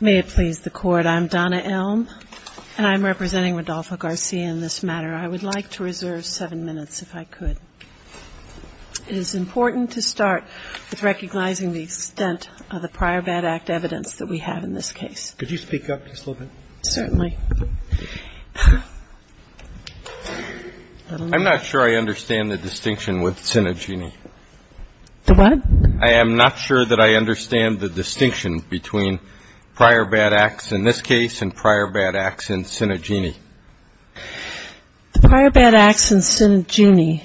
May it please the Court, I'm Donna Elm and I'm representing Rodolfo Garcia in this matter. I would like to reserve seven minutes if I could. It is important to start with recognizing the extent of the prior bad act evidence that we have in this case. Could you speak up just a little bit? Certainly. I'm not sure I understand the distinction with Cinegini. The what? I am not sure that I understand the distinction between prior bad acts in this case and prior bad acts in Cinegini. The prior bad acts in Cinegini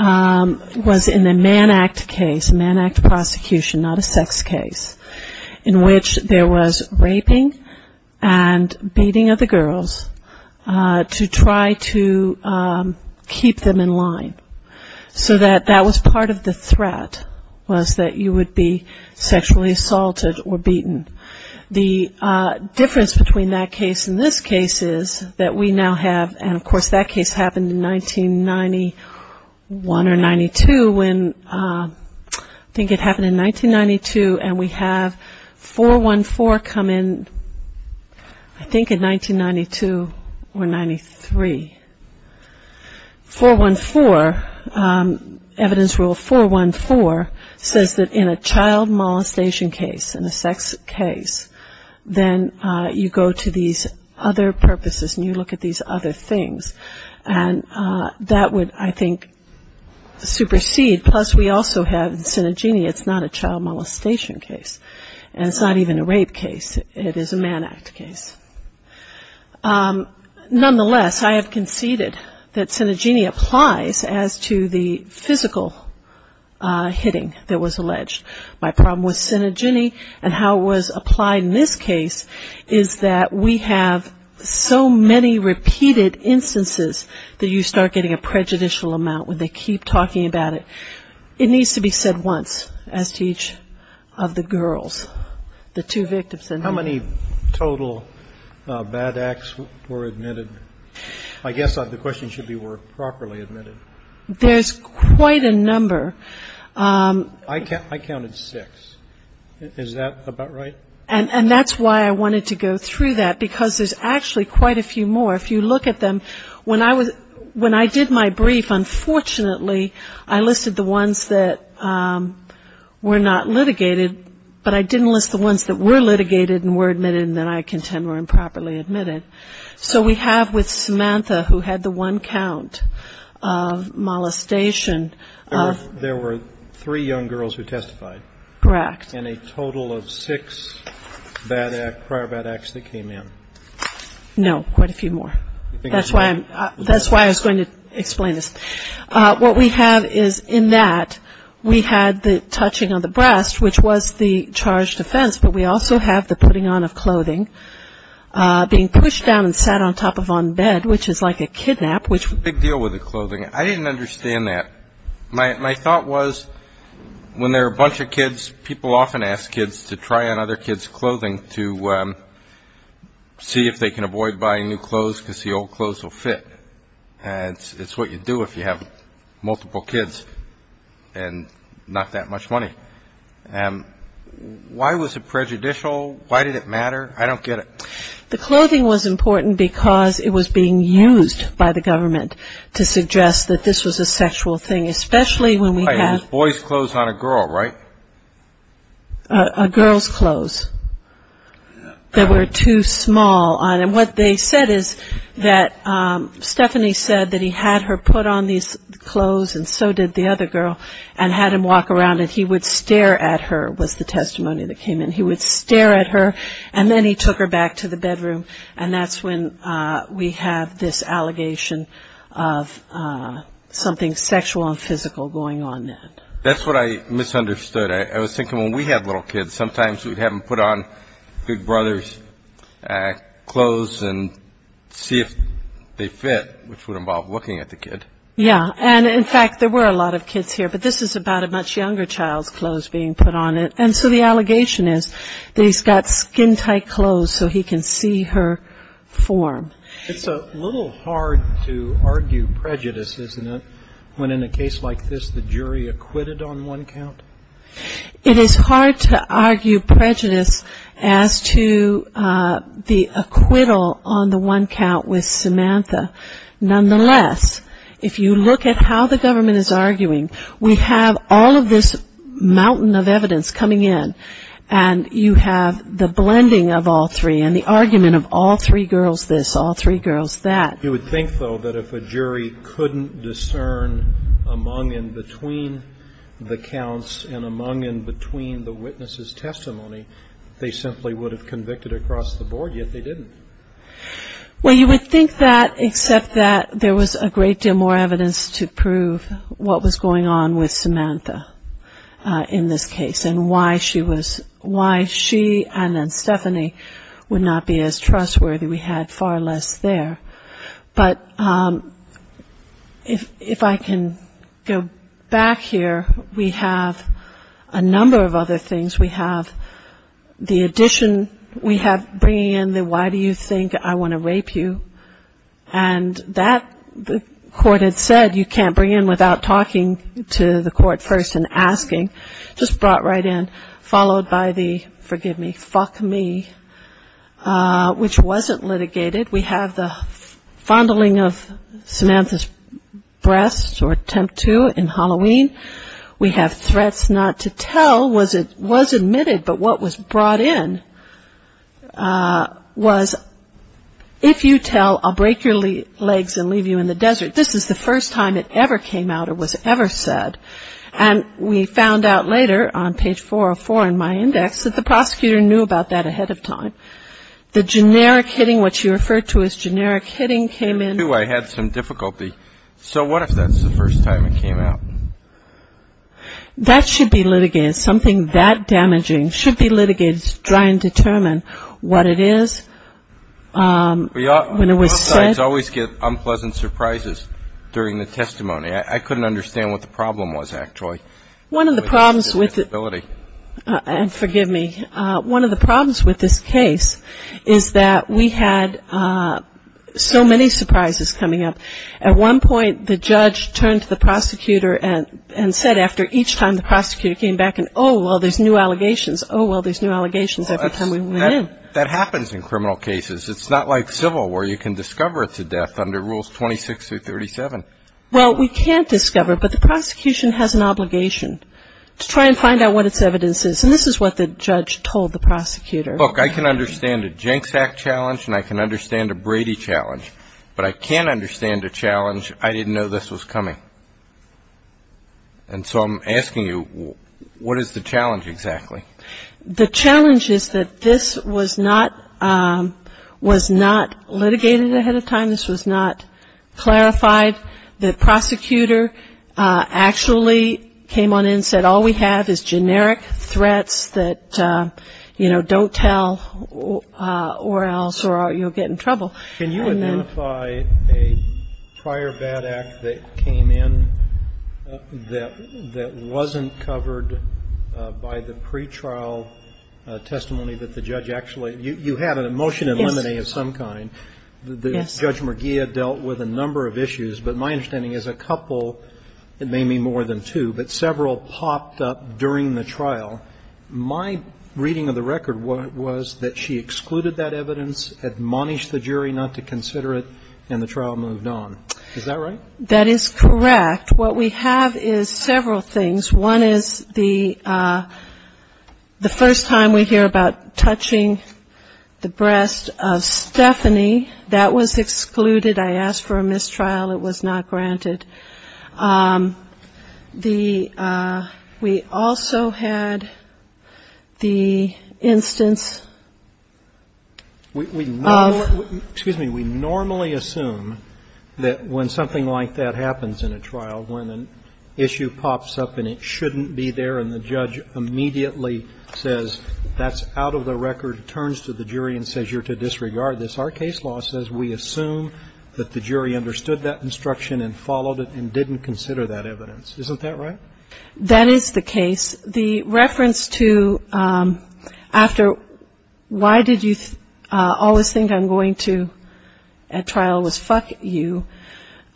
was in the Mann Act case, Mann Act prosecution, not a sex case, in which there was raping and beating of the girls to try to keep them in line. So that was part of the threat was that you would be sexually assaulted or beaten. The difference between that case and this case is that we now have, and of course that case happened in 1991 or 92 when, I think it happened in 1992 and we have 414 come in, I think in 1992 or 93. 414, evidence rule 414 says that in a child molestation case, in a sex case, then you go to these other purposes and you look at these other things. And that would, I think, supersede, plus we also have Cinegini, it's not a child molestation case. And it's not even a rape case, it is a Mann Act case. Nonetheless, I have conceded that Cinegini applies as to the physical hitting that was alleged. My problem with Cinegini and how it was applied in this case is that we have so many repeated instances that you start getting a prejudicial amount when they keep talking about it. It needs to be said once as to each of the girls, the two victims. How many total bad acts were admitted? I guess the question should be were properly admitted. There's quite a number. I counted six. Is that about right? And that's why I wanted to go through that because there's actually quite a few more. If you look at them, when I did my brief, unfortunately, I listed the ones that were not litigated, but I didn't list the ones that were litigated and were admitted and that I contend were improperly admitted. So we have with Samantha, who had the one count of molestation. There were three young girls who testified. Correct. And a total of six prior bad acts that came in. No, quite a few more. That's why I was going to explain this. What we have is in that we had the touching of the breast, which was the charged offense, but we also have the putting on of clothing, being pushed down and sat on top of on bed, which is like a kidnap. Big deal with the clothing. I didn't understand that. My thought was when there are a bunch of kids, people often ask kids to try on other kids' clothing to see if they can avoid buying new clothes because the old clothes will fit. It's what you do if you have multiple kids and not that much money. Why was it prejudicial? Why did it matter? I don't get it. The clothing was important because it was being used by the government to suggest that this was a sexual thing, especially when we have – It was boys' clothes on a girl, right? A girl's clothes that were too small. And what they said is that Stephanie said that he had her put on these clothes and so did the other girl and had him walk around and he would stare at her was the testimony that came in. He would stare at her and then he took her back to the bedroom and that's when we have this allegation of something sexual and physical going on. That's what I misunderstood. I was thinking when we have little kids, sometimes we have them put on Big Brother's clothes and see if they fit, which would involve looking at the kid. Yeah. And, in fact, there were a lot of kids here, but this is about a much younger child's clothes being put on it. And so the allegation is that he's got skin-tight clothes so he can see her form. It's a little hard to argue prejudice, isn't it, when in a case like this the jury acquitted on one count? It is hard to argue prejudice as to the acquittal on the one count with Samantha. Nonetheless, if you look at how the government is arguing, we have all of this mountain of evidence coming in and you have the blending of all three and the argument of all three girls this, all three girls that. You would think, though, that if a jury couldn't discern among and between the counts and among and between the witnesses' testimony, they simply would have convicted across the board, yet they didn't. Well, you would think that, except that there was a great deal more evidence to prove what was going on with Samantha in this case and why she was, why she and then Stephanie would not be as trustworthy. We had far less there. But if I can go back here, we have a number of other things. We have the addition, we have bringing in the why do you think I want to rape you, and that the court had said you can't bring in without talking to the court first and asking, just brought right in, followed by the forgive me, fuck me, which wasn't litigated. We have the fondling of Samantha's breast or attempt to in Halloween. We have threats not to tell was it was admitted, but what was brought in was if you tell, I'll break your legs and leave you in the desert, this is the first time it ever came out or was ever said. And we found out later on page 404 in my index that the prosecutor knew about that ahead of time. The generic hitting, what you referred to as generic hitting came in. So what if that's the first time it came out? That should be litigated. Something that damaging should be litigated to try and determine what it is, when it was said. Both sides always get unpleasant surprises during the testimony. I couldn't understand what the problem was actually. One of the problems with it, and forgive me, one of the problems with this case is that we had so many surprises coming up. At one point the judge turned to the prosecutor and said after each time the prosecutor came back and, oh, well, there's new allegations, oh, well, there's new allegations every time we went in. That happens in criminal cases. It's not like civil where you can discover it to death under rules 26 through 37. Well, we can't discover it, but the prosecution has an obligation to try and find out what its evidence is. And this is what the judge told the prosecutor. Look, I can understand a Jenks Act challenge and I can understand a Brady challenge, but I can't understand a challenge, I didn't know this was coming. And so I'm asking you, what is the challenge exactly? The challenge is that this was not litigated ahead of time. This was not clarified. The prosecutor actually came on in and said all we have is generic threats that, you know, don't tell or else you'll get in trouble. Can you identify a prior bad act that came in that wasn't covered by the pretrial testimony that the judge actually, you had a motion in limine of some kind. Yes. The judge Merguia dealt with a number of issues, but my understanding is a couple, maybe more than two, but several popped up during the trial. My reading of the record was that she excluded that evidence, admonished the jury not to consider it, and the trial moved on. Is that right? That is correct. What we have is several things. One is the first time we hear about touching the breast of Stephanie. That was excluded. I asked for a mistrial. It was not granted. The we also had the instance of. Excuse me. We normally assume that when something like that happens in a trial, when an issue pops up and it shouldn't be there and the judge immediately says that's out of the record, turns to the jury and says you're to disregard this, our case law says we assume that the jury understood that instruction and followed it and didn't consider that evidence. Isn't that right? That is the case. The reference to after why did you always think I'm going to at trial was fuck you,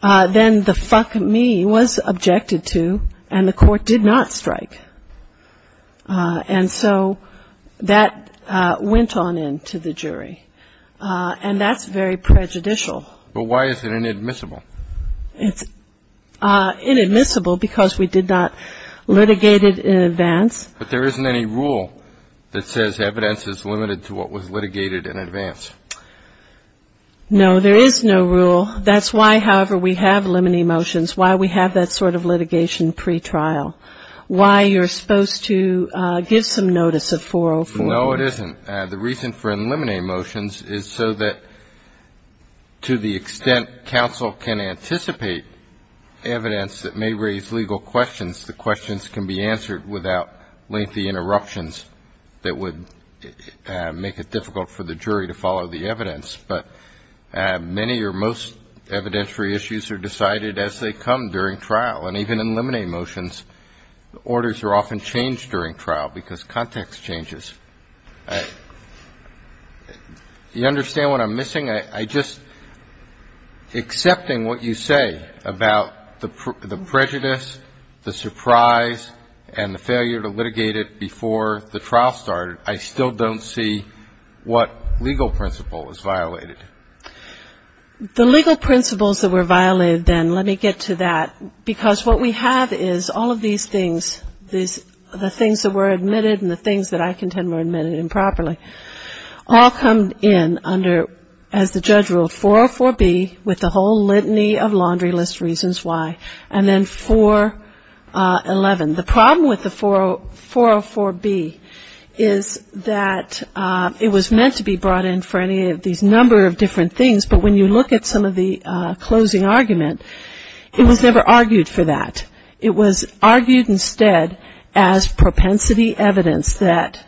then the fuck me was objected to and the court did not strike. And so that went on into the jury. And that's very prejudicial. But why is it inadmissible? It's inadmissible because we did not litigate it in advance. But there isn't any rule that says evidence is limited to what was litigated in advance. No, there is no rule. That's why, however, we have limine motions, why we have that sort of litigation pretrial, why you're supposed to give some notice of 404. No, it isn't. The reason for in limine motions is so that to the extent counsel can anticipate evidence that may raise legal questions, the questions can be answered without lengthy interruptions that would make it difficult for the jury to follow the evidence. But many or most evidentiary issues are decided as they come during trial. And even in limine motions, orders are often changed during trial because context changes. Do you understand what I'm missing? I just, accepting what you say about the prejudice, the surprise, and the failure to litigate it before the trial started, I still don't see what legal principle is violated. The legal principles that were violated then, let me get to that, because what we have is all of these things, the things that were admitted and the things that I contend were admitted improperly, all come in under, as the judge ruled, 404B with the whole litany of laundry list reasons why, and then 411. The problem with the 404B is that it was meant to be brought in for any of these number of different things, but when you look at some of the closing argument, it was never argued for that. It was argued instead as propensity evidence that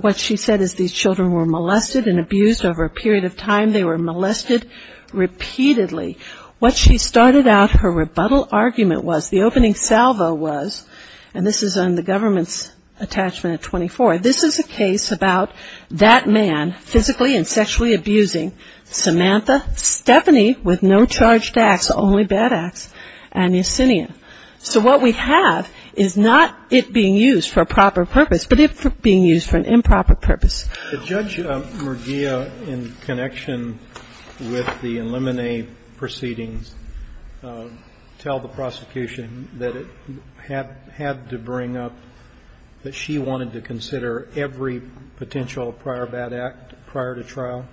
what she said is these children were molested and abused over a period of time. They were molested repeatedly. What she started out her rebuttal argument was, the opening salvo was, and this is on the government's attachment at 24, this is a case about that man physically and sexually abusing Samantha Stephanie with no charged acts, only bad acts, and Yesenia. So what we have is not it being used for a proper purpose, but it being used for an improper purpose. The judge, Murgia, in connection with the Illuminate proceedings, tell the prosecution that it had to bring up that she wanted to consider every potential prior bad act prior to trial?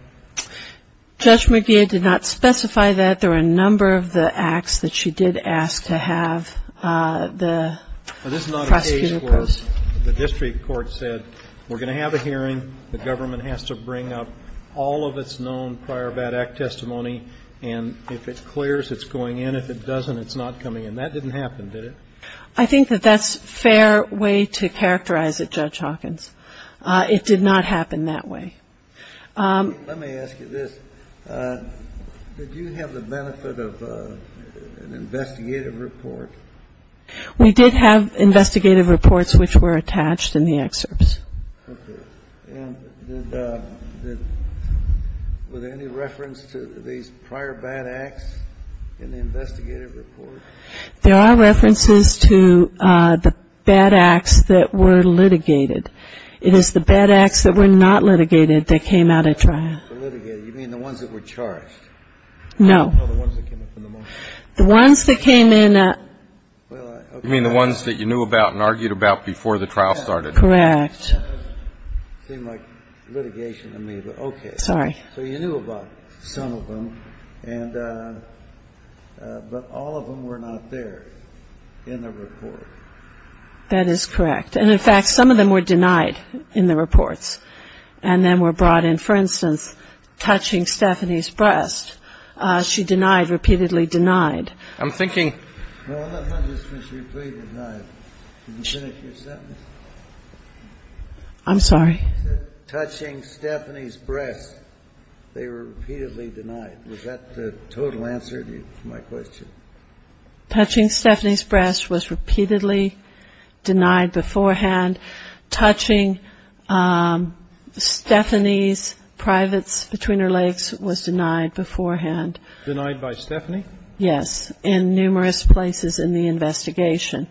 Judge Murgia did not specify that. There were a number of the acts that she did ask to have the prosecutor post. But this is not a case where the district court said we're going to have a hearing, the government has to bring up all of its known prior bad act testimony, and if it clears, it's going in. If it doesn't, it's not coming in. That didn't happen, did it? I think that that's a fair way to characterize it, Judge Hawkins. It did not happen that way. Let me ask you this. Did you have the benefit of an investigative report? We did have investigative reports which were attached in the excerpts. Okay. And were there any reference to these prior bad acts in the investigative report? There are references to the bad acts that were litigated. It is the bad acts that were not litigated that came out at trial. The litigated, you mean the ones that were charged? No. No, the ones that came up in the motion? The ones that came in. You mean the ones that you knew about and argued about before the trial started? Correct. It doesn't seem like litigation to me, but okay. Sorry. So you knew about some of them, but all of them were not there in the report. That is correct. And, in fact, some of them were denied in the reports and then were brought in, for instance, touching Stephanie's breast. She denied, repeatedly denied. I'm thinking. No, not just repeatedly denied. Can you finish your sentence? I'm sorry. You said touching Stephanie's breast. They were repeatedly denied. Was that the total answer to my question? Touching Stephanie's breast was repeatedly denied beforehand. Touching Stephanie's privates between her legs was denied beforehand. Denied by Stephanie? Yes, in numerous places in the investigation.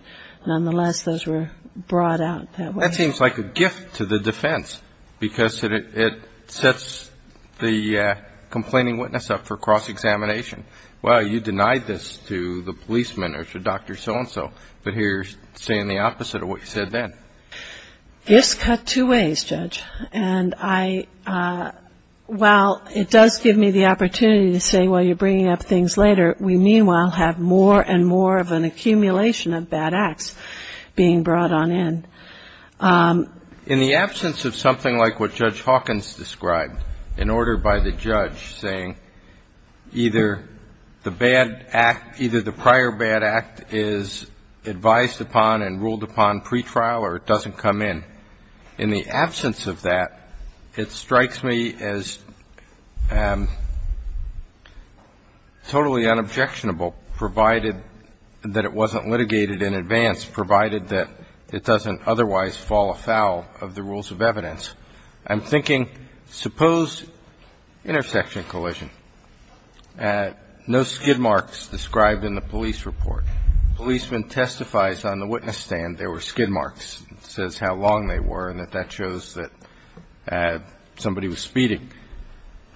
Nonetheless, those were brought out that way. That seems like a gift to the defense because it sets the complaining witness up for cross-examination. Well, you denied this to the policeman or to Dr. So-and-so, but here you're saying the opposite of what you said then. Gifts cut two ways, Judge. And while it does give me the opportunity to say, well, you're bringing up things later, we meanwhile have more and more of an accumulation of bad acts being brought on in. In the absence of something like what Judge Hawkins described, in order by the judge saying either the bad act, either the prior bad act is advised upon and ruled upon pretrial or it doesn't come in. In the absence of that, it strikes me as totally unobjectionable, provided that it wasn't litigated in advance, provided that it doesn't otherwise fall afoul of the rules of evidence. I'm thinking, suppose intersection collision. No skid marks described in the police report. Policeman testifies on the witness stand there were skid marks. It says how long they were and that that shows that somebody was speeding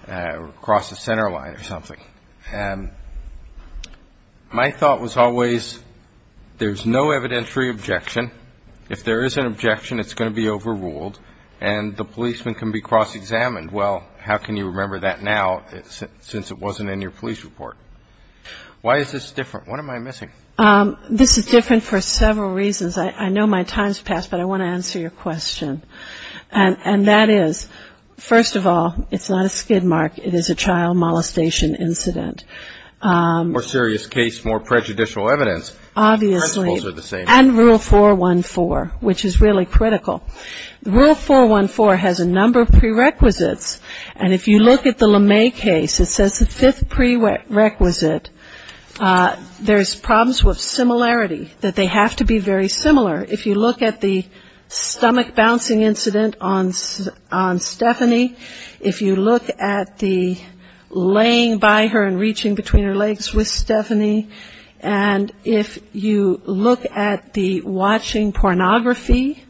across the center line or something. My thought was always there's no evidentiary objection. If there is an objection, it's going to be overruled and the policeman can be cross-examined. Well, how can you remember that now since it wasn't in your police report? Why is this different? What am I missing? This is different for several reasons. I know my time's passed, but I want to answer your question. And that is, first of all, it's not a skid mark. It is a child molestation incident. More serious case, more prejudicial evidence. Obviously. Principles are the same. And Rule 414, which is really critical. Rule 414 has a number of prerequisites. And if you look at the LeMay case, it says the fifth prerequisite, there's problems with similarity, that they have to be very similar. If you look at the stomach bouncing incident on Stephanie, if you look at the laying by her and reaching between her legs with Stephanie, and if you look at the watching pornography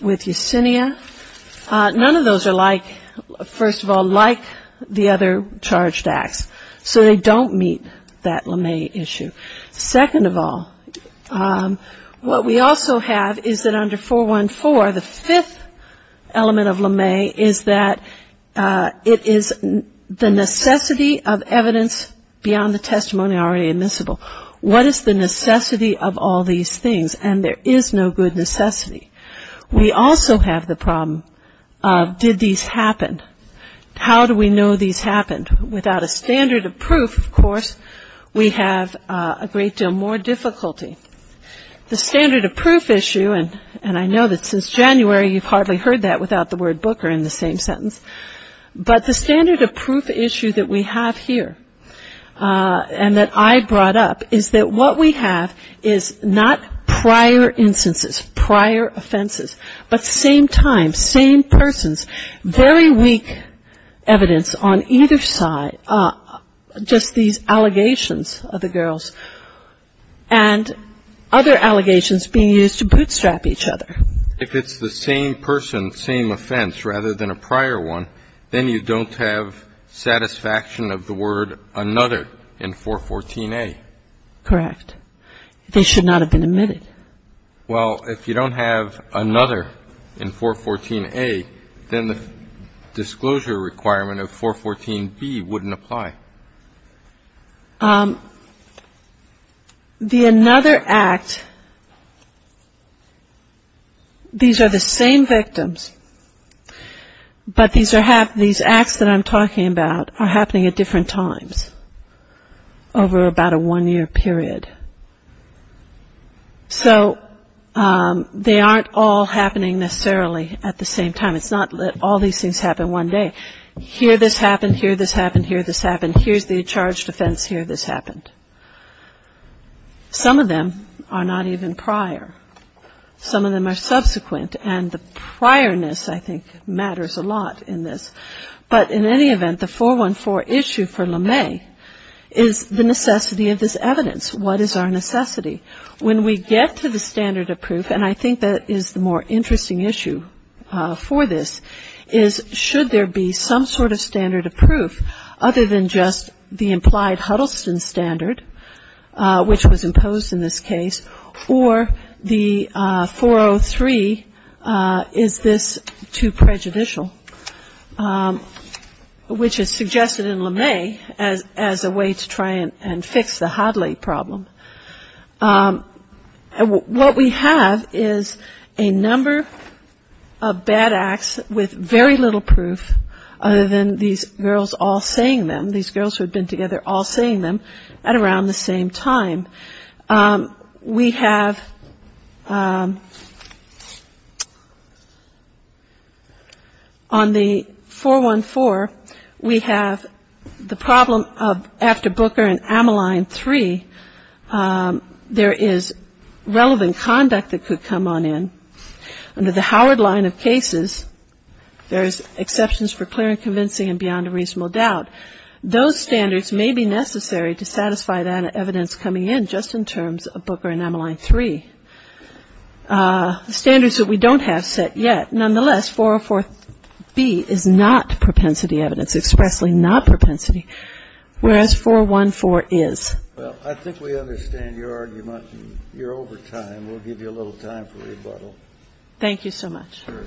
with Yesenia, none of those are like, first of all, like the other charged acts. So they don't meet that LeMay issue. Second of all, what we also have is that under 414, the fifth element of LeMay is that it is the necessity of evidence beyond the testimony already admissible. What is the necessity of all these things? And there is no good necessity. We also have the problem of did these happen? How do we know these happened? Without a standard of proof, of course, we have a great deal more difficulty. The standard of proof issue, and I know that since January you've hardly heard that without the word booker in the same sentence, but the standard of proof issue that we have here and that I brought up is that what we have is not prior instances, prior offenses, but same time, same persons, very weak evidence on either side, just these allegations of the girls. And other allegations being used to bootstrap each other. If it's the same person, same offense, rather than a prior one, then you don't have satisfaction of the word another in 414A. Correct. They should not have been admitted. Well, if you don't have another in 414A, then the disclosure requirement of 414B wouldn't apply. The another act, these are the same victims, but these acts that I'm talking about are happening at different times over about a one-year period. So they aren't all happening necessarily at the same time. It's not that all these things happen one day. Here this happened, here this happened, here this happened, here's the charged offense, here this happened. Some of them are not even prior. Some of them are subsequent, and the priorness I think matters a lot in this. But in any event, the 414 issue for LeMay is the necessity of this evidence. What is our necessity? When we get to the standard of proof, and I think that is the more interesting issue for this, is should there be some sort of standard of proof other than just the implied Huddleston standard, which was imposed in this case, or the 403, is this too prejudicial, which is suggested in LeMay as a way to try and fix the Hadley problem. What we have is a number of bad acts with very little proof other than these girls all saying them, these girls who had been together all saying them at around the same time. We have on the 414, we have the problem of after Booker and Amaline 3, there is relevant conduct that could come on in. Under the Howard line of cases, there's exceptions for clear and convincing and beyond a reasonable doubt. Those standards may be necessary to satisfy that evidence coming in just in terms of Booker and Amaline 3. Standards that we don't have set yet. Nonetheless, 404B is not propensity evidence, expressly not propensity, whereas 414 is. Well, I think we understand your argument. You're over time. We'll give you a little time for rebuttal. Thank you so much. Sure.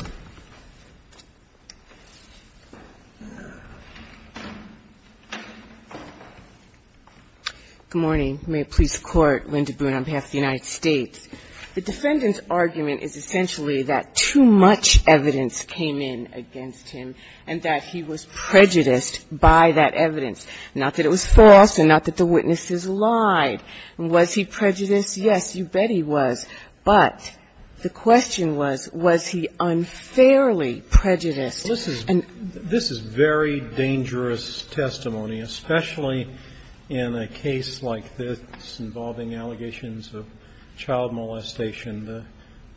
Good morning. May it please the Court. Linda Boone on behalf of the United States. The defendant's argument is essentially that too much evidence came in against him and that he was prejudiced by that evidence, not that it was false and not that the witnesses lied. Was he prejudiced? Yes, you bet he was. But the question was, was he unfairly prejudiced? This is very dangerous testimony, especially in a case like this involving allegations of child molestation.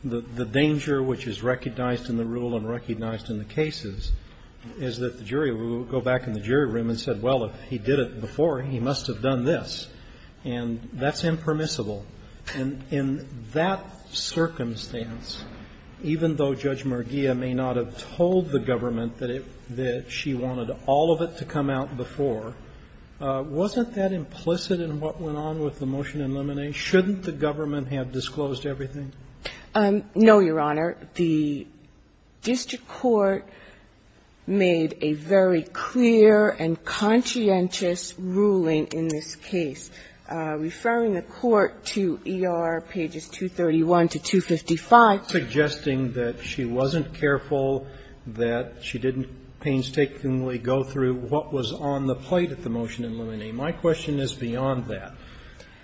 The danger which is recognized in the rule and recognized in the cases is that the jury will go back in the jury room and say, well, if he did it before, he must have done this, and that's impermissible. And in that circumstance, even though Judge Mergia may not have told the government that she wanted all of it to come out before, wasn't that implicit in what went on with the motion in Lemonade? Shouldn't the government have disclosed everything? No, Your Honor. The district court made a very clear and conscientious ruling in this case. Referring the court to ER pages 231 to 255. Suggesting that she wasn't careful, that she didn't painstakingly go through what was on the plate at the motion in Lemonade. My question is beyond that.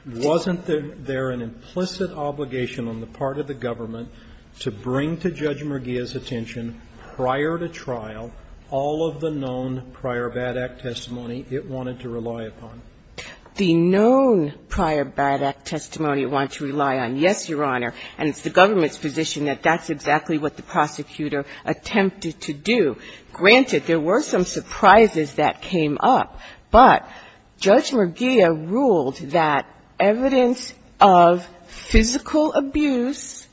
Wasn't there an implicit obligation on the part of the government to bring to Judge Mergia's attention prior to trial all of the known prior bad act testimony it wanted to rely upon? The known prior bad act testimony it wanted to rely on, yes, Your Honor. And it's the government's position that that's exactly what the prosecutor attempted to do. Granted, there were some surprises that came up. But Judge Mergia ruled that evidence of physical abuse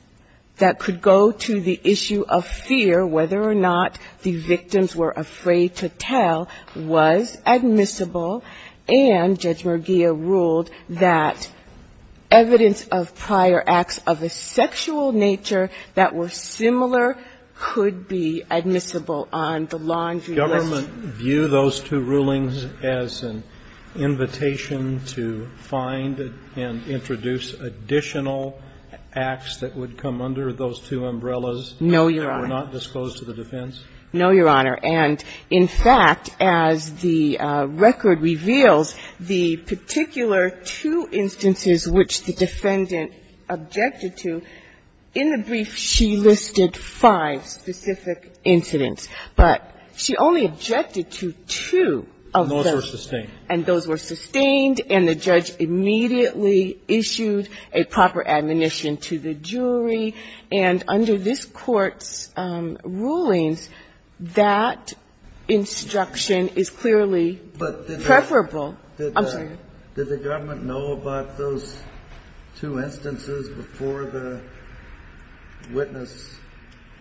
that could go to the issue of fear, whether or not the victims were afraid to tell, was admissible. And Judge Mergia ruled that evidence of prior acts of a sexual nature that were similar could be admissible on the laundry list. Did the government view those two rulings as an invitation to find and introduce additional acts that would come under those two umbrellas? No, Your Honor. That were not disclosed to the defense? No, Your Honor. And, in fact, as the record reveals, the particular two instances which the defendant objected to, in the brief she listed five specific incidents. But she only objected to two of those. And those were sustained. And those were sustained. And the judge immediately issued a proper admonition to the jury. And under this Court's rulings, that instruction is clearly preferable. I'm sorry. Did the government know about those two instances before the witness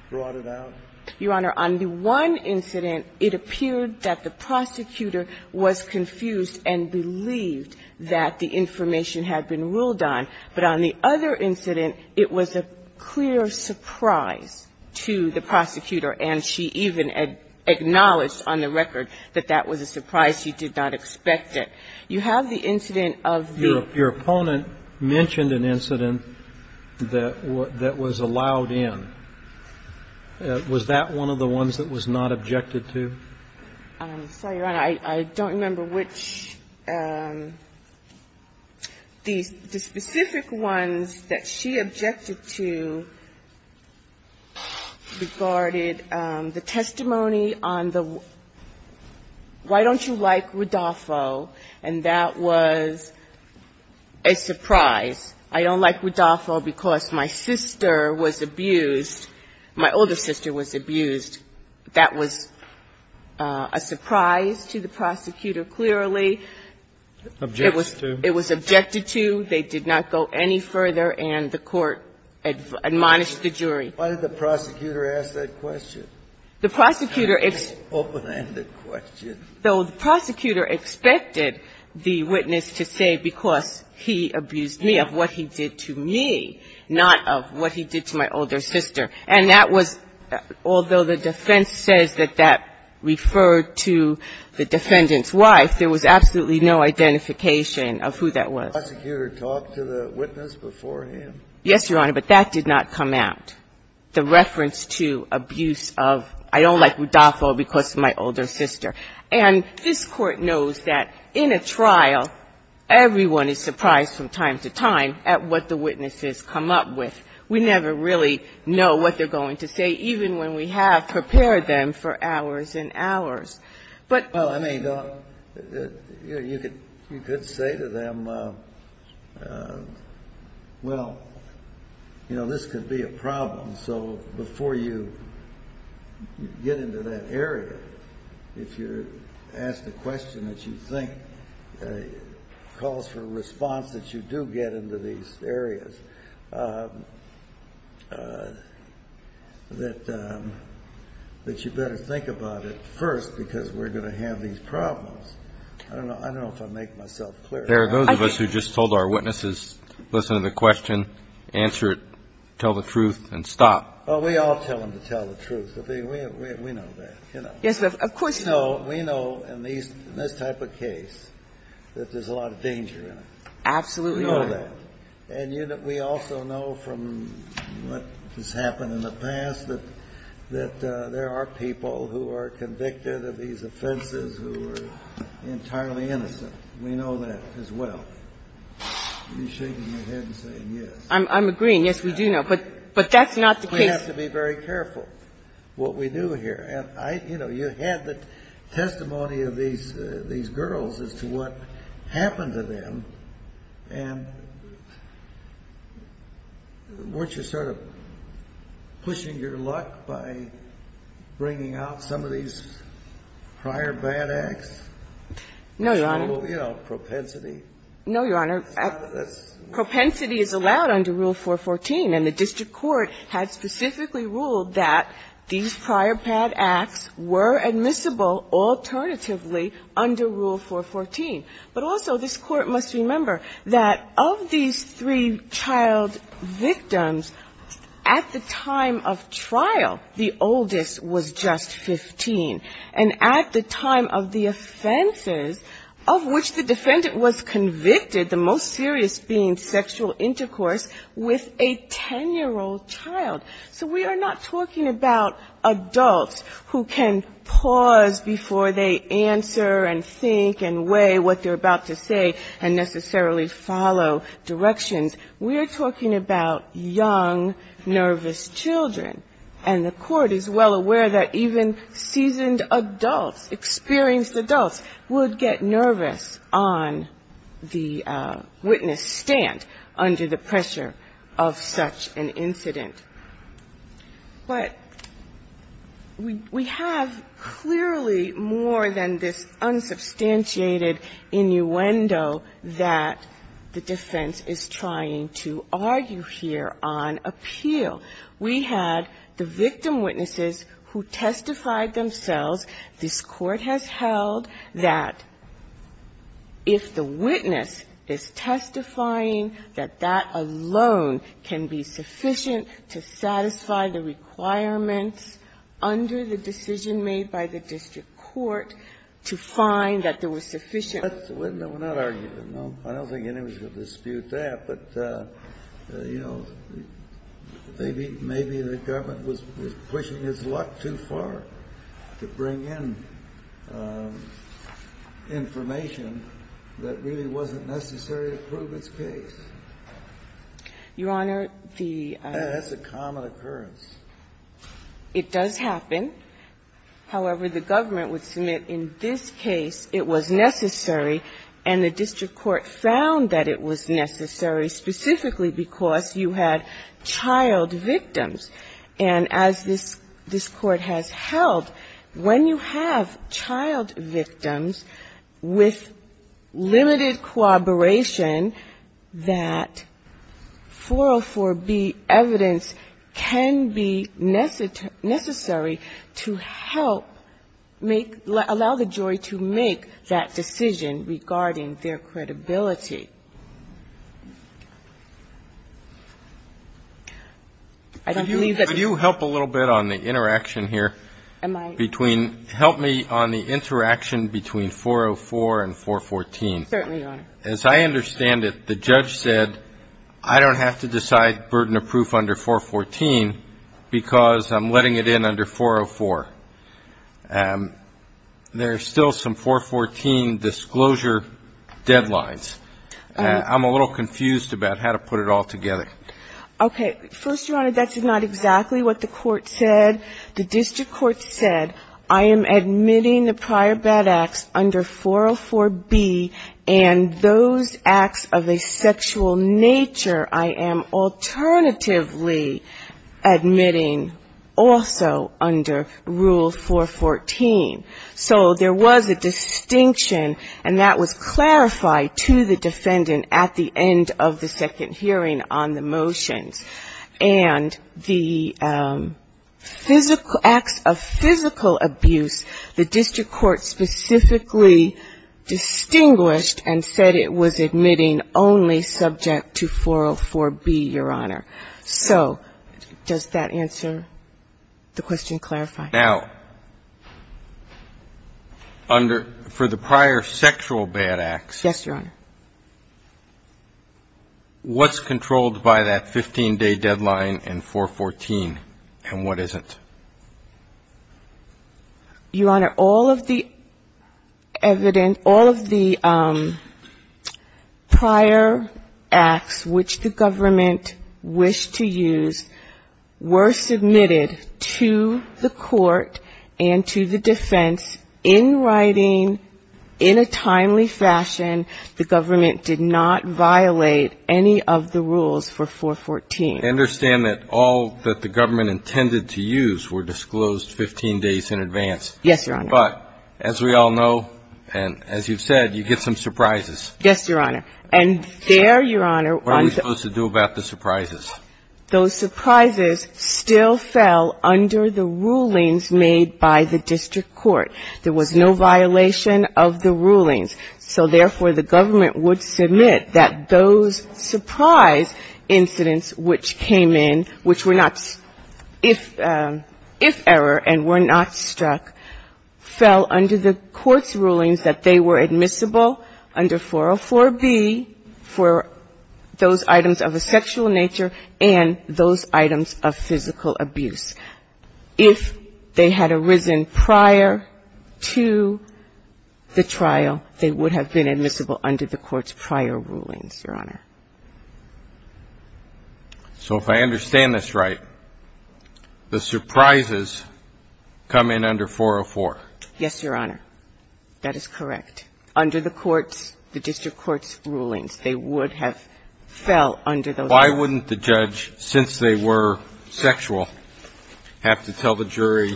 brought it out? Your Honor, on the one incident, it appeared that the prosecutor was confused and believed that the information had been ruled on. But on the other incident, it was a clear surprise to the prosecutor, and she even acknowledged on the record that that was a surprise. She did not expect it. You have the incident of the ---- Your opponent mentioned an incident that was allowed in. Was that one of the ones that was not objected to? I'm sorry, Your Honor. I don't remember which. The specific ones that she objected to regarded the testimony on the why don't you like Rodolfo, and that was a surprise. I don't like Rodolfo because my sister was abused. My older sister was abused. That was a surprise to the prosecutor, clearly. Objected to. It was objected to. They did not go any further. And the Court admonished the jury. Why did the prosecutor ask that question? The prosecutor asked the question. So the prosecutor expected the witness to say, because he abused me, of what he did to me, not of what he did to my older sister. And that was, although the defense says that that referred to the defendant's wife, there was absolutely no identification of who that was. Did the prosecutor talk to the witness beforehand? Yes, Your Honor, but that did not come out, the reference to abuse of I don't like Rodolfo because of my older sister. And this Court knows that in a trial, everyone is surprised from time to time at what the witnesses come up with. We never really know what they're going to say, even when we have prepared them for hours and hours. But you could say to them, well, you know, this could be a problem, so before you get into that area, if you're asked a question that you think calls for a response that you do get into these areas, that you better think about it first because we're going to have these problems. I don't know if I make myself clear. There are those of us who just told our witnesses, listen to the question, answer it, tell the truth, and stop. Well, we all tell them to tell the truth. We know that, you know. Yes, of course. We know in this type of case that there's a lot of danger in it. Absolutely. We know that. And we also know from what has happened in the past that there are people who are convicted of these offenses who are entirely innocent. We know that as well. You're shaking your head and saying yes. I'm agreeing. Yes, we do know. But that's not the case. We have to be very careful what we do here. You know, you had the testimony of these girls as to what happened to them, and weren't you sort of pushing your luck by bringing out some of these prior bad acts? No, Your Honor. You know, propensity. No, Your Honor. Propensity is allowed under Rule 414, and the district court had specifically ruled that these prior bad acts were admissible alternatively under Rule 414. But also this Court must remember that of these three child victims, at the time of trial, the oldest was just 15. And at the time of the offenses of which the defendant was convicted, the most serious being sexual intercourse with a 10-year-old child. So we are not talking about adults who can pause before they answer and think and weigh what they're about to say and necessarily follow directions. We are talking about young, nervous children. And the Court is well aware that even seasoned adults, experienced adults, would get nervous on the witness stand under the pressure of such an incident. But we have clearly more than this unsubstantiated innuendo that the defense is trying to argue here on appeal. We had the victim witnesses who testified themselves. This Court has held that if the witness is testifying, that that alone can be sufficient to satisfy the requirements under the decision made by the district court to find that there was sufficient. Kennedy. We're not arguing, no. I don't think anyone should dispute that. But, you know, maybe the government was pushing its luck too far to bring in information that really wasn't necessary to prove its case. Your Honor, the ---- That's a common occurrence. It does happen. However, the government would submit in this case it was necessary, and the district court found that it was necessary specifically because you had child victims. And as this Court has held, when you have child victims with limited cooperation that 404B evidence can be necessary to help make ---- allow the jury to make that decision regarding their credibility. I don't believe that ---- Could you help a little bit on the interaction here between ---- Am I ---- Help me on the interaction between 404 and 414. Certainly, Your Honor. As I understand it, the judge said I don't have to decide burden of proof under 414 because I'm letting it in under 404. There are still some 414 disclosure deadlines. I'm a little confused about how to put it all together. Okay. First, Your Honor, that's not exactly what the court said. The district court said I am admitting the prior bad acts under 404B and those acts of a sexual nature I am alternatively admitting also under Rule 414. So there was a distinction, and that was clarified to the defendant at the end of the second hearing on the motions. And the physical acts of physical abuse, the district court specifically distinguished and said it was admitting only subject to 404B, Your Honor. So does that answer the question, clarify? Now, under ---- for the prior sexual bad acts ---- Yes, Your Honor. What's controlled by that 15-day deadline in 414, and what isn't? Your Honor, all of the prior acts which the government wished to use were submitted to the court and to the defense in writing in a timely fashion. The government did not violate any of the rules for 414. I understand that all that the government intended to use were disclosed 15 days in advance. Yes, Your Honor. But as we all know, and as you've said, you get some surprises. Yes, Your Honor. And there, Your Honor ---- What are we supposed to do about the surprises? Those surprises still fell under the rulings made by the district court. There was no violation of the rulings. So, therefore, the government would submit that those surprise incidents which came in, which were not ---- if error and were not struck, fell under the court's rulings that they were admissible under 404B for those items of a sexual nature and those items of physical abuse. If they had arisen prior to the trial, they would have been admissible under the court's prior rulings, Your Honor. So if I understand this right, the surprises come in under 404? Yes, Your Honor. That is correct. If they had arisen prior to the trial, they would have been admissible under the court's ---- the district court's rulings. They would have fell under those ---- Why wouldn't the judge, since they were sexual, have to tell the jury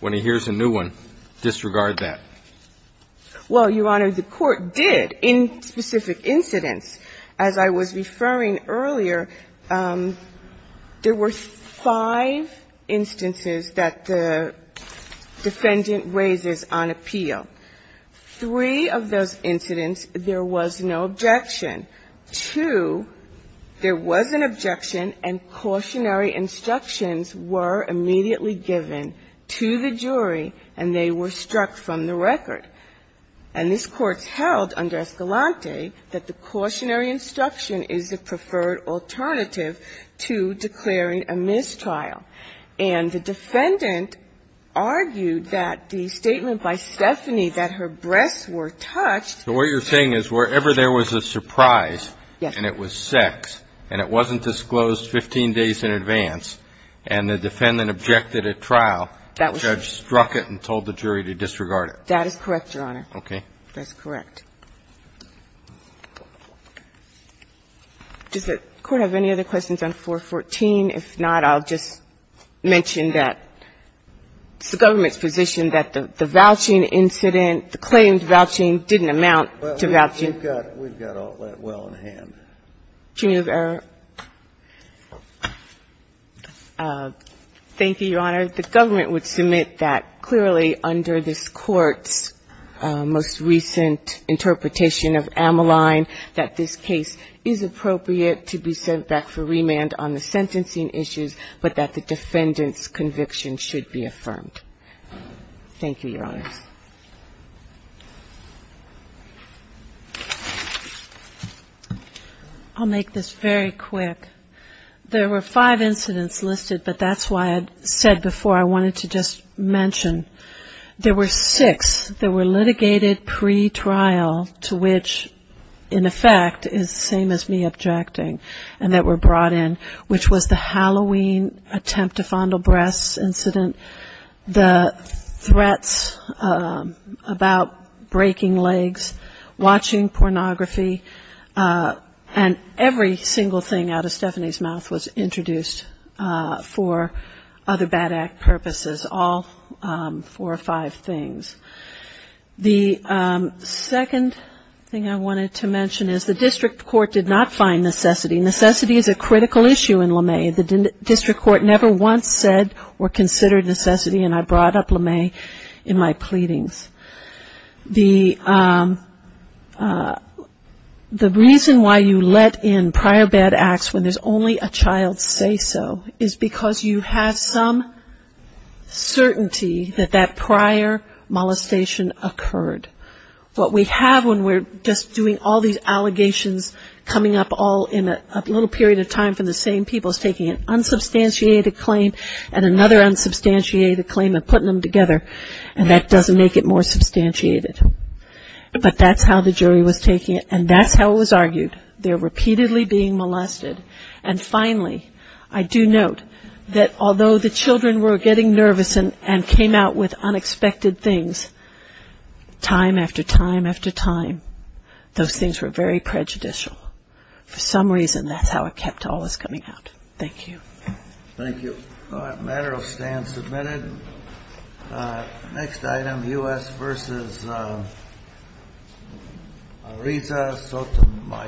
when he hears a new one, disregard that? Well, Your Honor, the court did in specific incidents. As I was referring earlier, there were five instances that the defendant raises on appeal. Three of those incidents, there was no objection. Two, there was an objection and cautionary instructions were immediately given to the jury and they were struck from the record. And this Court held under Escalante that the cautionary instruction is the preferred alternative to declaring a mistrial. And the defendant argued that the statement by Stephanie that her breasts were touched ---- So what you're saying is wherever there was a surprise and it was sex and it wasn't disclosed 15 days in advance and the defendant objected at trial, the judge struck it and told the jury to disregard it. That is correct, Your Honor. Okay. That's correct. Does the Court have any other questions on 414? If not, I'll just mention that it's the government's position that the vouching incident, the claimed vouching didn't amount to vouching. We've got all that well in hand. Thank you, Your Honor. The government would submit that clearly under this Court's most recent interpretation of Ammaline that this case is appropriate to be sent back for remand on the sentencing issues, but that the defendant's conviction should be affirmed. Thank you, Your Honor. I'll make this very quick. There were five incidents listed, but that's why I said before I wanted to just mention. There were six that were litigated pretrial to which, in effect, is the same as me objecting, and that were brought in, which was the Halloween attempt to fondle breasts incident, the threats about breaking legs, watching pornography, and every single thing out of Stephanie's mouth was introduced for other bad act purposes, all four or five things. The second thing I wanted to mention is the district court did not find necessity. Necessity is a critical issue in LeMay. The district court never once said or considered necessity, and I brought up LeMay in my pleadings. The reason why you let in prior bad acts when there's only a child say so is because you have some certainty that that prior molestation occurred. What we have when we're just doing all these allegations coming up all in a little period of time from the same people is taking an unsubstantiated claim and another unsubstantiated claim and putting them together, and that doesn't make it more substantiated. But that's how the jury was taking it, and that's how it was argued. They're repeatedly being molested. And finally, I do note that although the children were getting nervous and came out with unexpected things time after time after time, those things were very prejudicial. For some reason, that's how it kept always coming out. Thank you. Thank you. That matter will stand submitted. Next item, U.S. v. Ariza Sotomayor.